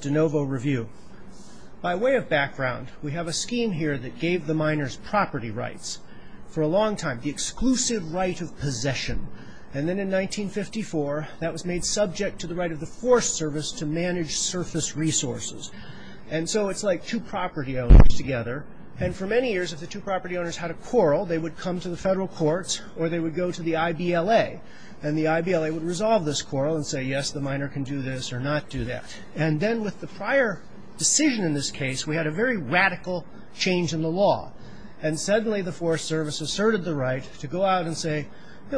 De Novo Review By way of background, we have a scheme here that gave the miners property rights for a long time – the exclusive right of possession. Then, in 1954, that was made subject to the right of the Forest Service to manage surface resources. It's like two property owners together. And, for many years, if the two property owners had a quarrel, they would come to the federal courts or they would go to the I.B.L.A. And the I.B.L.A. would resolve this quarrel and say, yes, the miner can do this or not do that. And then, with the prior decision in this case, we had a very radical change in the law. And suddenly, the Forest Service asserted the right to go out and say,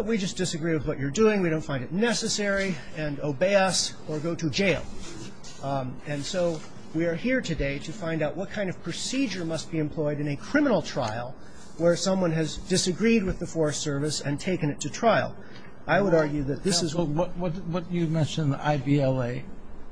we just disagree with what you're doing, we don't find it necessary, and obey us, or go to jail. And so, we are here today to find out what kind of procedure must be employed in a criminal trial where someone has disagreed with the Forest Service and taken it to trial. I would argue that this is – What you mentioned, the I.B.L.A.?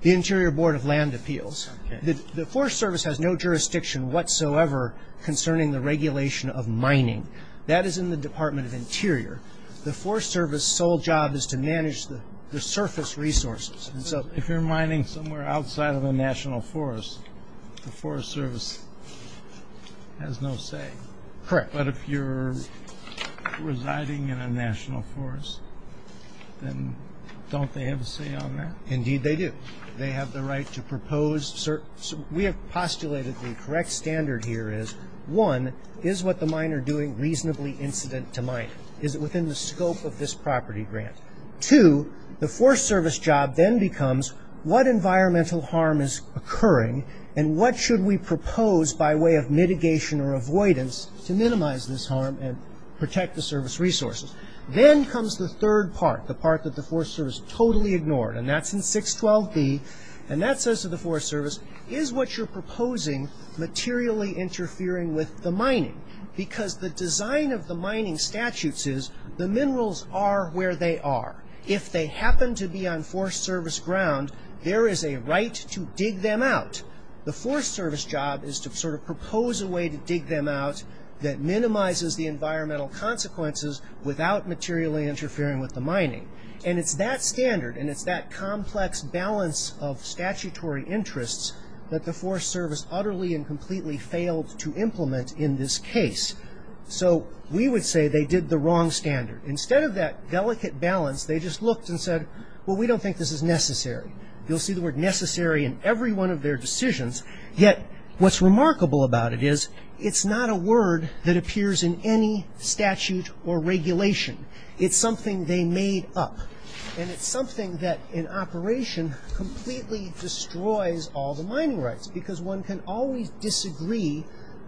The Interior Board of Land Appeals. The Forest Service has no jurisdiction whatsoever concerning the regulation of mining. That is in the Department of Interior. The Forest Service's sole job is to manage the surface resources. So, if you're mining somewhere outside of a national forest, the Forest Service has no say. Correct. But if you're residing in a national forest, then don't they have a say on that? Indeed, they do. They have the right to propose – We have postulated the correct standard here is, one, is what the miner doing reasonably incident to mining? Is it within the scope of this property grant? Two, the Forest Service job then becomes what environmental harm is occurring and what should we propose by way of mitigation or avoidance to minimize this harm and protect the surface resources? Then comes the third part, the part that the Forest Service totally ignored. And that's in 612B. And that says to the Forest Service, is what you're proposing materially interfering with the mining? Because the design of the mining statutes is, the minerals are where they are. If they happen to be on Forest Service ground, there is a right to dig them out. The Forest Service job is to sort of propose a way to dig them out that minimizes the environmental consequences without materially interfering with the mining. And it's that standard and it's that complex balance of statutory interests that the Forest Service did the wrong standard. Instead of that delicate balance, they just looked and said, well, we don't think this is necessary. You'll see the word necessary in every one of their decisions. Yet what's remarkable about it is, it's not a word that appears in any statute or regulation. It's something they made up. And it's something that in operation completely destroys all the mining rights because one can always disagree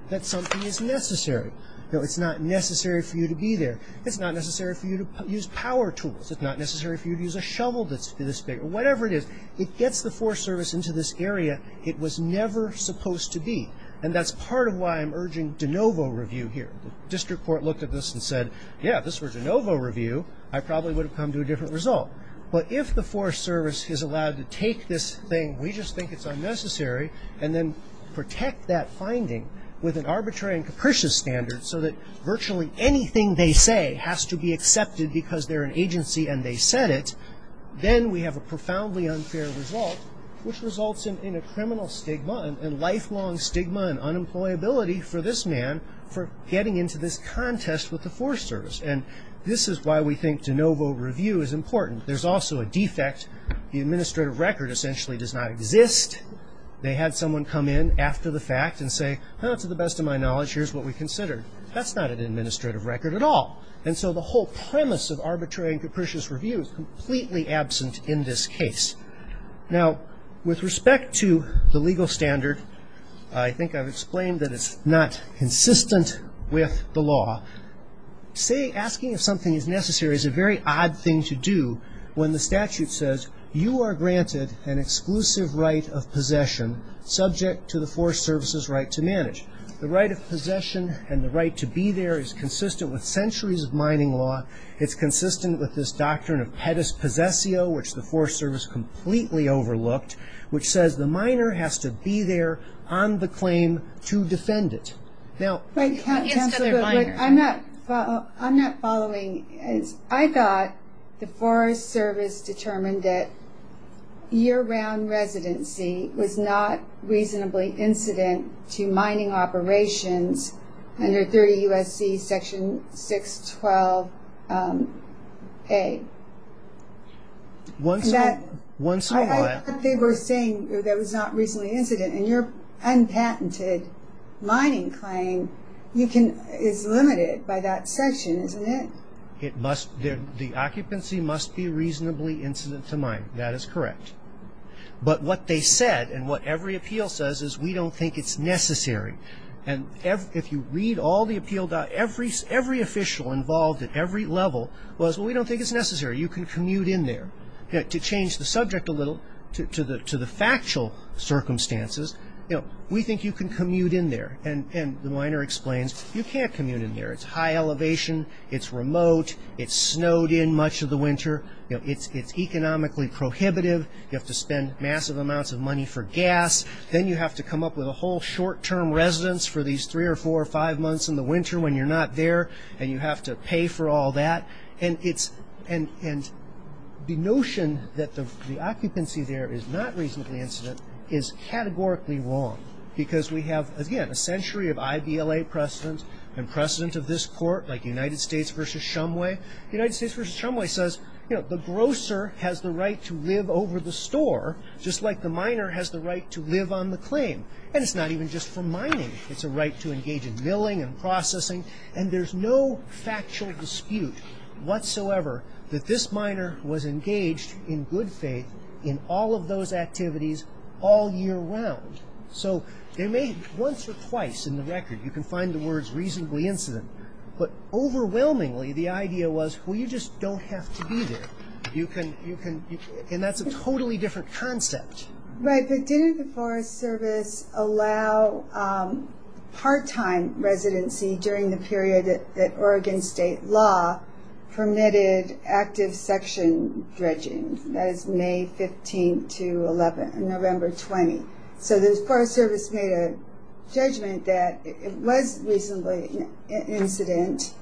that something is necessary. It's not necessary for you to be there. It's not necessary for you to use power tools. It's not necessary for you to use a shovel that's this big or whatever it is. It gets the Forest Service into this area it was never supposed to be. And that's part of why I'm urging de novo review here. The district court looked at this and said, yeah, if this were de novo review, I probably would have come to a different result. But if the Forest Service is allowed to take this thing, we just think it's unnecessary. And then protect that finding with an arbitrary and capricious standard so that virtually anything they say has to be accepted because they're an agency and they said it. Then we have a profoundly unfair result, which results in a criminal stigma and lifelong stigma and unemployability for this man for getting into this contest with the Forest Service. And this is why we think de novo review is important. There's also a defect. The administrative record essentially does not exist. They had someone come in after the fact and say, to the best of my knowledge, here's what we considered. That's not an administrative record at all. And so the whole premise of arbitrary and capricious review is completely absent in this case. Now with respect to the legal standard, I think I've explained that it's not consistent with the law. Asking if something is necessary is a very odd thing to do when the statute says you are granted an exclusive right of possession subject to the Forest Service's right to manage. The right of possession and the right to be there is consistent with centuries of mining law. It's consistent with this doctrine of pettis possesio, which the Forest Service completely overlooked, which says the miner has to be there on the claim to defend it. I'm not following. I thought the Forest Service determined that year-round residency was not reasonably incident to mining operations under 30 U.S.C. section 612A. Once what? I thought they were saying that it was not reasonably incident, and you're unpatented mining claim is limited by that section, isn't it? The occupancy must be reasonably incident to mine. That is correct. But what they said and what every appeal says is we don't think it's necessary. And if you read all the appeal documents, every official involved at every level was we don't think it's necessary. You can commute in there. To change the subject a little to the factual circumstances, we think you can commute in there. And the miner explains you can't commute in there. It's high elevation. It's remote. It's snowed in much of the winter. It's economically prohibitive. You have to spend massive amounts of money for gas. Then you have to come up with a whole short-term residence for these three or four or five months in the winter when you're not there, and you have to pay for all that. And the notion that the occupancy there is not reasonably incident is categorically wrong because we have, again, a century of IBLA precedent and precedent of this court like United States v. Shumway. United States v. Shumway says the grocer has the right to live over the store just like the miner has the right to live on the claim. And it's not even just for mining. It's a right to engage in milling and processing. And there's no factual dispute whatsoever that this miner was engaged in good faith in all of those activities all year round. So they may, once or twice in the record, you can find the words reasonably incident. But overwhelmingly, the idea was, well, you just don't have to be there. And that's a totally different concept. Right, but didn't the Forest Service allow part-time residency during the period that Oregon state law permitted active section dredging? That is May 15th to 11th, November 20th. So the Forest Service made a judgment that it was reasonably incident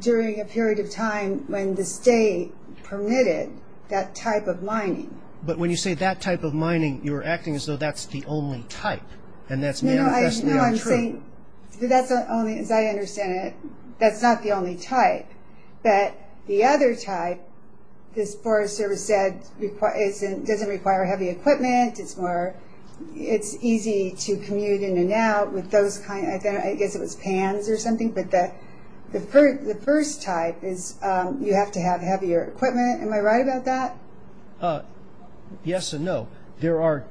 during a period of time when the state permitted that type of mining. But when you say that type of mining, you're acting as though that's the only type. And that's manifestly untrue. No, no, I'm saying, as I understand it, that's not the only type. That the other type, the Forest Service said, doesn't require heavy equipment. It's easy to commute in and out with those kinds, I guess it was pans or something, but the first type is you have to have heavier equipment. Am I right about that? Yes and no. The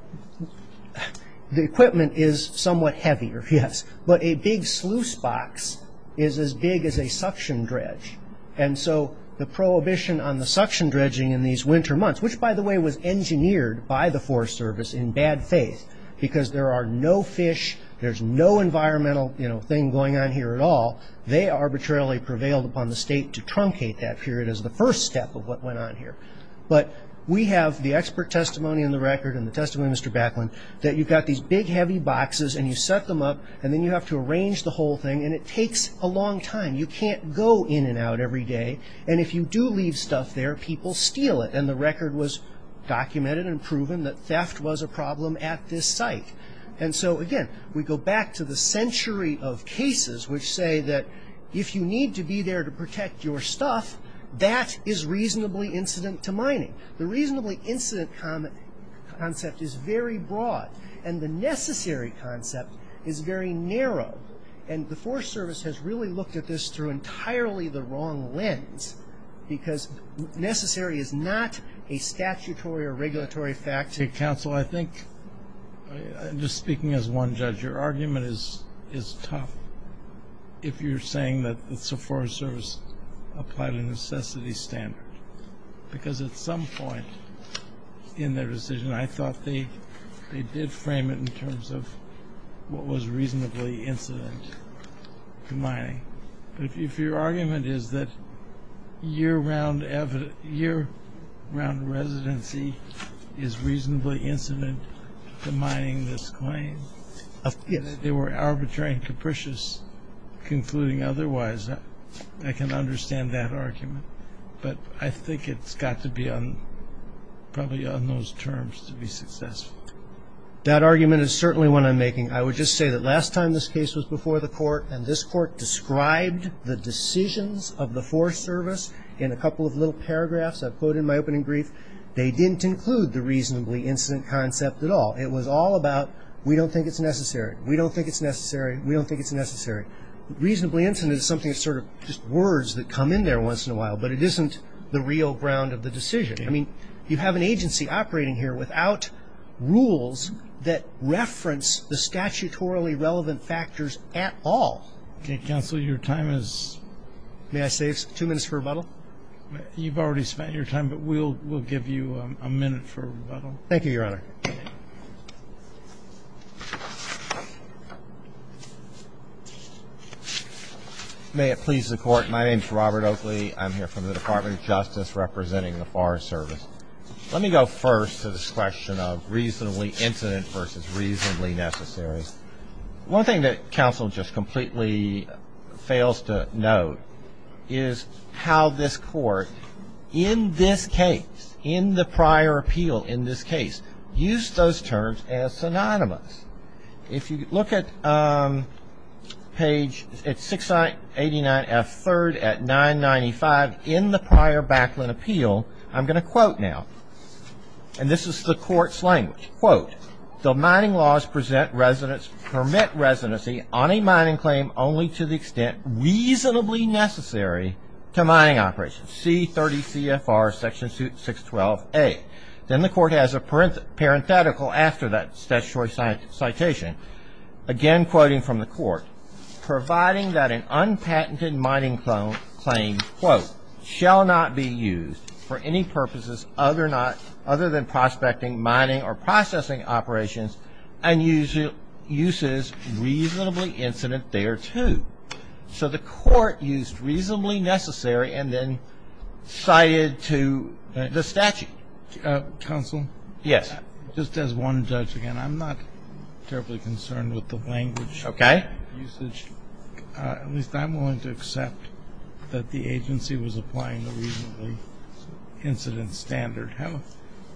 equipment is somewhat heavier, yes, but a big sluice box is as big as a suction dredge. And so the prohibition on the suction dredging in these winter months, which by the way was engineered by the Forest Service in bad faith, because there are no fish, there's no environmental thing going on here at all, they arbitrarily prevailed upon the state to truncate that period as the first step of what went on here. But we have the expert testimony in the record and the testimony of Mr. Backland that you've got these big heavy boxes and you set them up and then you have to arrange the whole thing and it takes a long time. You can't go in and out every day and if you do leave stuff there, people steal it. And the record was documented and proven that theft was a problem at this site. And so again, we go back to the century of cases which say that if you need to be there to protect your stuff, that is reasonably incident to mining. The reasonably incident concept is very broad and the necessary concept is very narrow. And the Forest Service has really looked at this through entirely the wrong lens because necessary is not a statutory or regulatory fact. Hey, counsel, I think, just speaking as one judge, your argument is tough. If you're saying that the Forest Service applied a necessity standard. Because at some point in their decision, I thought they did frame it in terms of what was reasonably incident to mining. But if your argument is that year-round residency is reasonably incident to mining, this claim, that they were arbitrary and capricious concluding otherwise, I can understand that argument. But I think it's got to be probably on those terms to be successful. That argument is certainly one I'm making. I would just say that last time this case was before the court and this court described the decisions of the Forest Service in a couple of little paragraphs I've quoted in my opening brief, they didn't include the reasonably incident concept at all. It was all about we don't think it's necessary. We don't think it's necessary. We don't think it's necessary. Reasonably incident is something that's sort of just words that come in there once in a while. But it isn't the real ground of the decision. I mean, you have an agency operating here without rules that reference the statutorily relevant factors at all. Okay. Counsel, your time is? May I say two minutes for rebuttal? Thank you, Your Honor. May it please the Court, my name is Robert Oakley. I'm here from the Department of Justice representing the Forest Service. Let me go first to this question of reasonably incident versus reasonably necessary. One thing that counsel just completely fails to note is how this court, in this case, in the prior appeal, in this case, used those terms as synonymous. If you look at page, it's 689F3rd at 995, in the prior Backland appeal, I'm going to quote now, and this is the court's language, quote, the mining laws present residence, permit residency on a mining claim only to the extent reasonably necessary to mining operations, C30CFR section 612A. Then the court has a parenthetical after that statutory citation, again quoting from the court, providing that an unpatented mining claim, quote, shall not be used for any purposes other than prospecting, mining, or processing operations and uses reasonably incident thereto. So the court used reasonably necessary and then cited to the statute. Counsel? Yes. Just as one judge again, I'm not terribly concerned with the language. Okay. At least I'm willing to accept that the agency was applying the reasonably incident standard.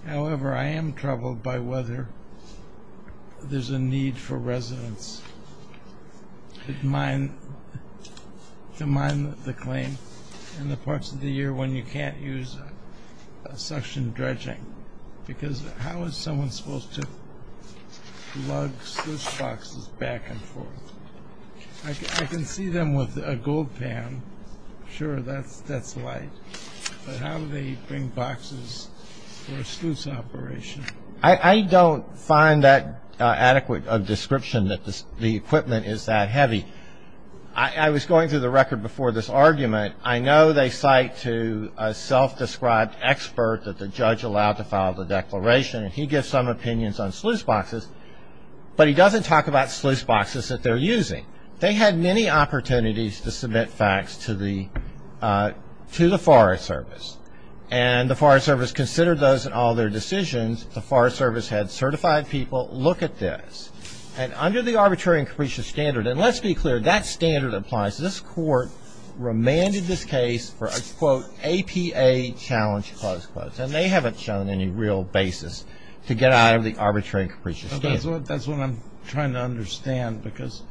However, I am troubled by whether there's a need for residents to mine the claim in the parts of the year when you can't use suction dredging, because how is someone supposed to lug those boxes back and forth? I can see them with a gold pan. Sure, that's light. But how do they bring boxes for a sluice operation? I don't find that adequate a description that the equipment is that heavy. I was going through the record before this argument. I know they cite to a self-described expert that the judge allowed to file the declaration, and he gives some opinions on sluice boxes, but he doesn't talk about sluice boxes that they're using. They had many opportunities to submit facts to the Forest Service, and the Forest Service considered those in all their decisions. The Forest Service had certified people look at this, and under the Arbitrary and Capricious Standard, and let's be clear, that standard applies. This court remanded this case for a, quote, APA challenge, close quotes, and they haven't shown any real basis to get out of the Arbitrary and Capricious Standard. That's what I'm trying to understand, because,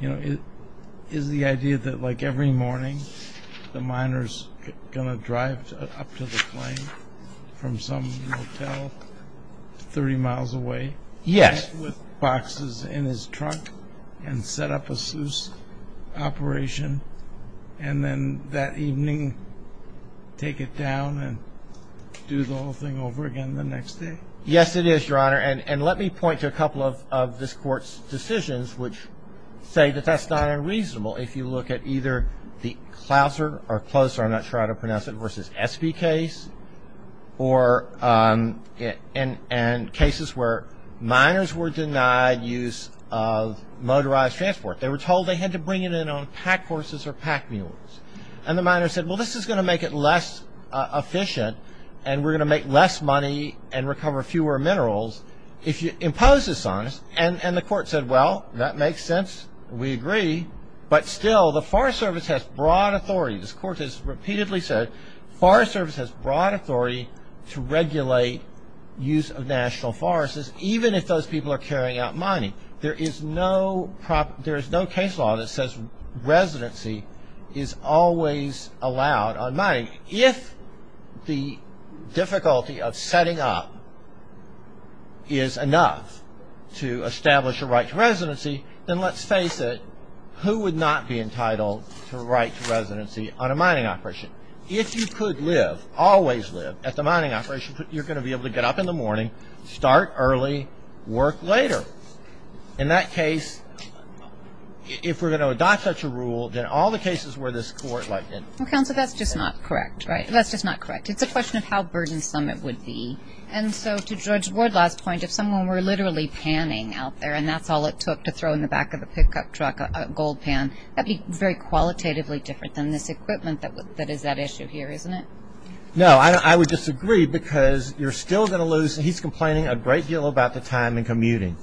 you know, is the idea that like every morning the miner's going to drive up to the plane from some motel 30 miles away with boxes in his truck and set up a sluice operation, and then that evening take it down and do the whole thing over again the next day? Yes, it is, Your Honor. Let me point to a couple of this court's decisions which say that that's not unreasonable if you look at either the Clouser, or Clouser, I'm not sure how to pronounce it, versus Espy case, and cases where miners were denied use of motorized transport. They were told they had to bring it in on pack horses or pack mules, and the miner said, well, this is going to make it less efficient, and we're going to make less money and recover fewer minerals if you impose this on us, and the court said, well, that makes sense, we agree, but still the Forest Service has broad authority, this court has repeatedly said, the Forest Service has broad authority to regulate use of national forests, even if those people are carrying out mining. There is no case law that says residency is always allowed on mining. If the difficulty of setting up is enough to establish a right to residency, then let's face it, who would not be entitled to a right to residency on a mining operation? If you could live, always live, at the mining operation, you're going to be able to get up in the morning, start early, work later. In that case, if we're going to adopt such a rule, then all the cases where this court Well, counsel, that's just not correct, right? That's just not correct. It's a question of how burdensome it would be, and so to Judge Wardlaw's point, if someone were literally panning out there and that's all it took to throw in the back of the pickup truck a gold pan, that would be very qualitatively different than this equipment that is at issue here, isn't it? No, I would disagree, because you're still going to lose, he's complaining a great deal about the time in commuting,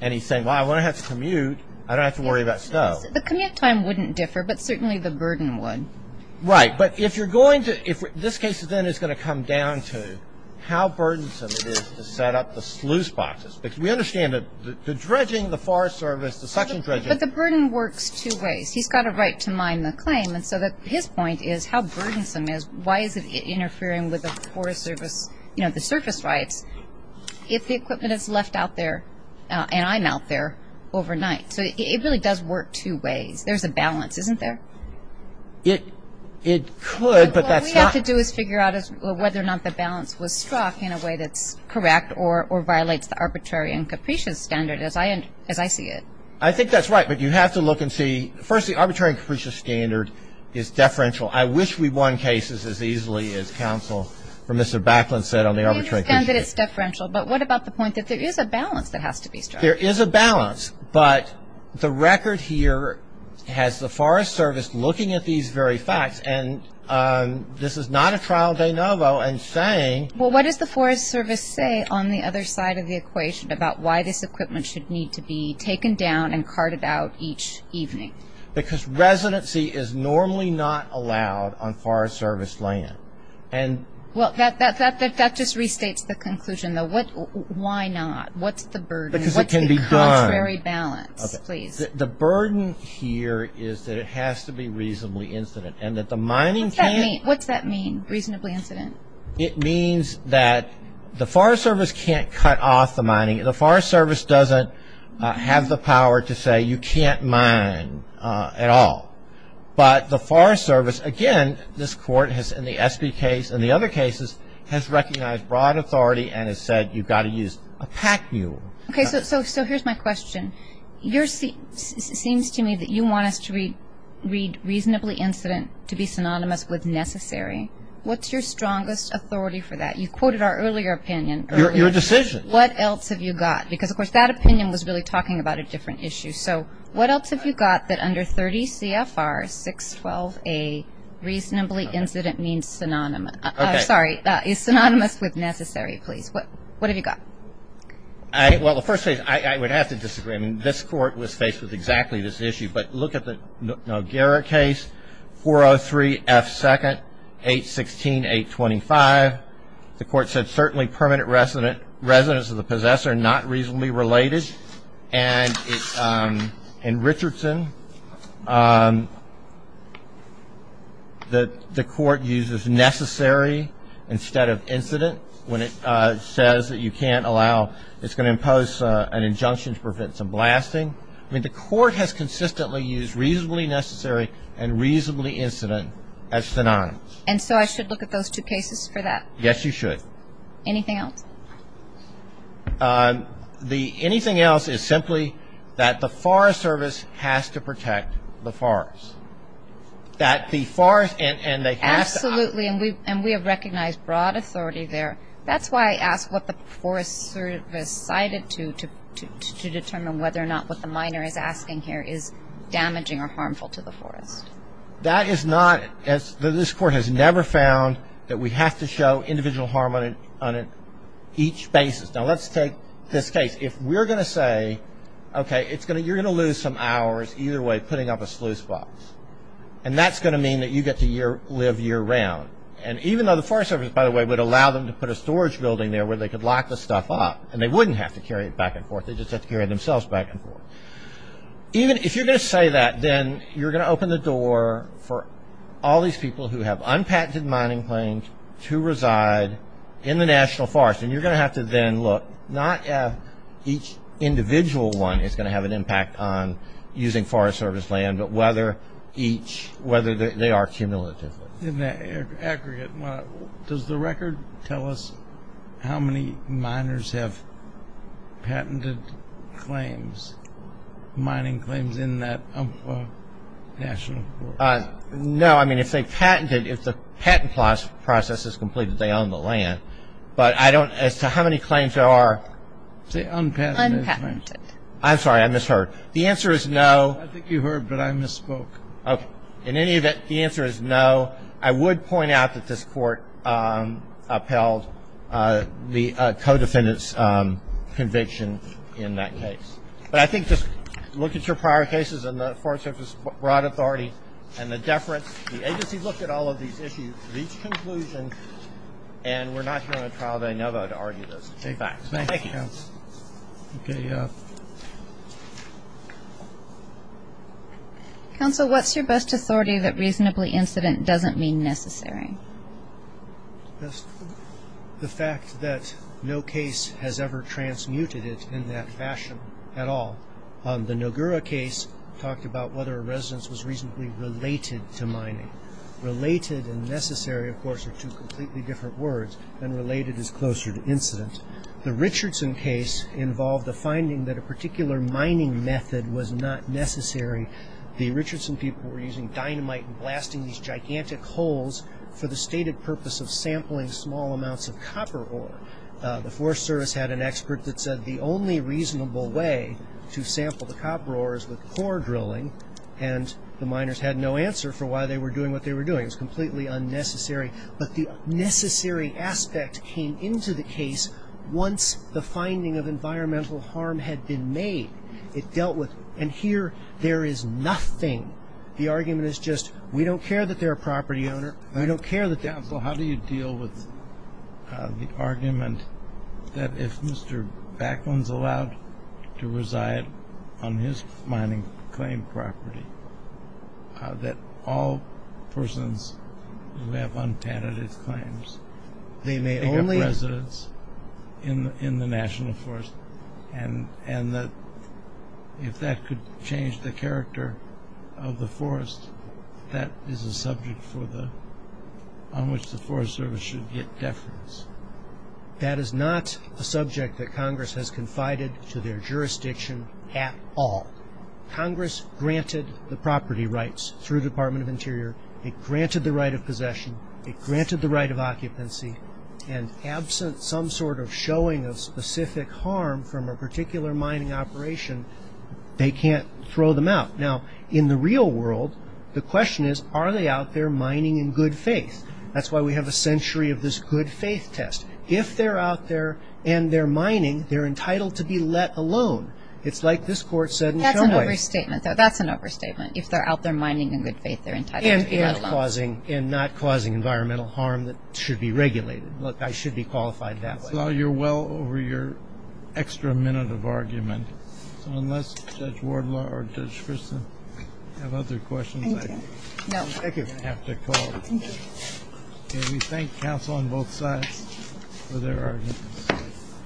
and he's saying, well, when I have to commute, I don't have to worry about snow. The commute time wouldn't differ, but certainly the burden would. Right, but if you're going to, this case then is going to come down to how burdensome it is to set up the sluice boxes, because we understand that the dredging, the forest service, the suction dredging But the burden works two ways. He's got a right to mine the claim, and so his point is, how burdensome is, why is it interfering with the forest service, you know, the surface rights, if the equipment is left out there, and I'm out there overnight? So it really does work two ways. There's a balance, isn't there? It could, but that's not What we have to do is figure out whether or not the balance was struck in a way that's correct or violates the arbitrary and capricious standard, as I see it. I think that's right, but you have to look and see, first, the arbitrary and capricious standard is deferential. I wish we won cases as easily as counsel for Mr. Backlund said on the arbitrary and capricious standard. We understand that it's deferential, but what about the point that there is a balance that has to be struck? There is a balance, but the record here has the forest service looking at these very facts, and this is not a trial de novo, and saying Well, what does the forest service say on the other side of the equation about why this equipment should need to be taken down and carted out each evening? Because residency is normally not allowed on forest service land, and Well, that just restates the conclusion, though. Why not? What's the burden? Because it can be done. What's the contrary balance? Okay. Please. The burden here is that it has to be reasonably incident, and that the mining can't What's that mean, reasonably incident? It means that the forest service can't cut off the mining. The forest service doesn't have the power to say you can't mine at all, but the forest service, again, this Court has in the SB case and the other cases, has recognized broad Okay, so here's my question. It seems to me that you want us to read reasonably incident to be synonymous with necessary. What's your strongest authority for that? You quoted our earlier opinion. Your decision. What else have you got? Because, of course, that opinion was really talking about a different issue. So what else have you got that under 30 CFR 612A, reasonably incident means synonymous Okay. Sorry. Is synonymous with necessary, please. What have you got? Well, the first case, I would have to disagree. This Court was faced with exactly this issue, but look at the Noguera case, 403F2, 816.825. The Court said certainly permanent residence of the possessor, not reasonably related. In Richardson, the Court uses necessary instead of incident when it says that you can't allow, it's going to impose an injunction to prevent some blasting. The Court has consistently used reasonably necessary and reasonably incident as synonymous. And so I should look at those two cases for that? Yes, you should. Anything else? Anything else is simply that the Forest Service has to protect the forest. That the forest, and they have to Absolutely, and we have recognized broad authority there. That's why I asked what the Forest Service cited to determine whether or not what the minor is asking here is damaging or harmful to the forest. That is not, this Court has never found that we have to show individual harm on each basis. Now let's take this case. If we're going to say, okay, you're going to lose some hours either way putting up a sluice box. And that's going to mean that you get to live year round. And even though the Forest Service, by the way, would allow them to put a storage building there where they could lock the stuff up, and they wouldn't have to carry it back and forth. They just have to carry it themselves back and forth. Even if you're going to say that, then you're going to open the door for all these people who have unpatented mining claims to reside in the national forest. And you're going to have to then look, not at each individual one is going to have an impact on using Forest Service land, but whether each, whether they are cumulative. In that aggregate, does the record tell us how many miners have patented claims, mining claims in that national forest? No, I mean if they patented, if the patent process is completed, they own the land. But I don't, as to how many claims there are. Say unpatented. Unpatented. I'm sorry, I misheard. The answer is no. I think you heard, but I misspoke. In any event, the answer is no. I would point out that this Court upheld the co-defendant's conviction in that case. But I think just look at your prior cases and the Forest Service's broad authority and the deference. The agency looked at all of these issues, each conclusion, and we're not here on a trial day, never, to argue those same facts. Thank you. Okay. Counsel, what's your best authority that reasonably incident doesn't mean necessary? The fact that no case has ever transmuted it in that fashion at all. The Nogura case talked about whether a residence was reasonably related to mining. Related and necessary, of course, are two completely different words, and related is closer to incident. The Richardson case involved the finding that a particular mining method was not necessary. The Richardson people were using dynamite and blasting these gigantic holes for the stated purpose of sampling small amounts of copper ore. The Forest Service had an expert that said the only reasonable way to sample the copper ore is with core drilling, and the miners had no answer for why they were doing what they were doing. It was completely unnecessary. But the necessary aspect came into the case once the finding of environmental harm had been made. It dealt with, and here there is nothing. The argument is just, we don't care that they're a property owner, we don't care that they're a property owner. Counsel, how do you deal with the argument that if Mr. Backlund's allowed to reside on his mining claim property, that all persons who have unpatented claims may have residence in the National Forest, and that if that could change the character of the forest, that is a subject on which the Forest Service should get deference? That is not a subject that Congress has confided to their jurisdiction at all. Congress granted the property rights through the Department of Interior. It granted the right of possession. It granted the right of occupancy, and absent some sort of showing of specific harm from a particular mining operation, they can't throw them out. In the real world, the question is, are they out there mining in good faith? That's why we have a century of this good faith test. If they're out there and they're mining, they're entitled to be let alone. It's like this Court said in Chumway. That's an overstatement, though. That's an overstatement. If they're out there mining in good faith, they're entitled to be let alone. And not causing environmental harm that should be regulated. Look, I should be qualified that way. Well, you're well over your extra minute of argument, so unless Judge Wardlaw or Judge We thank counsel on both sides for their arguments.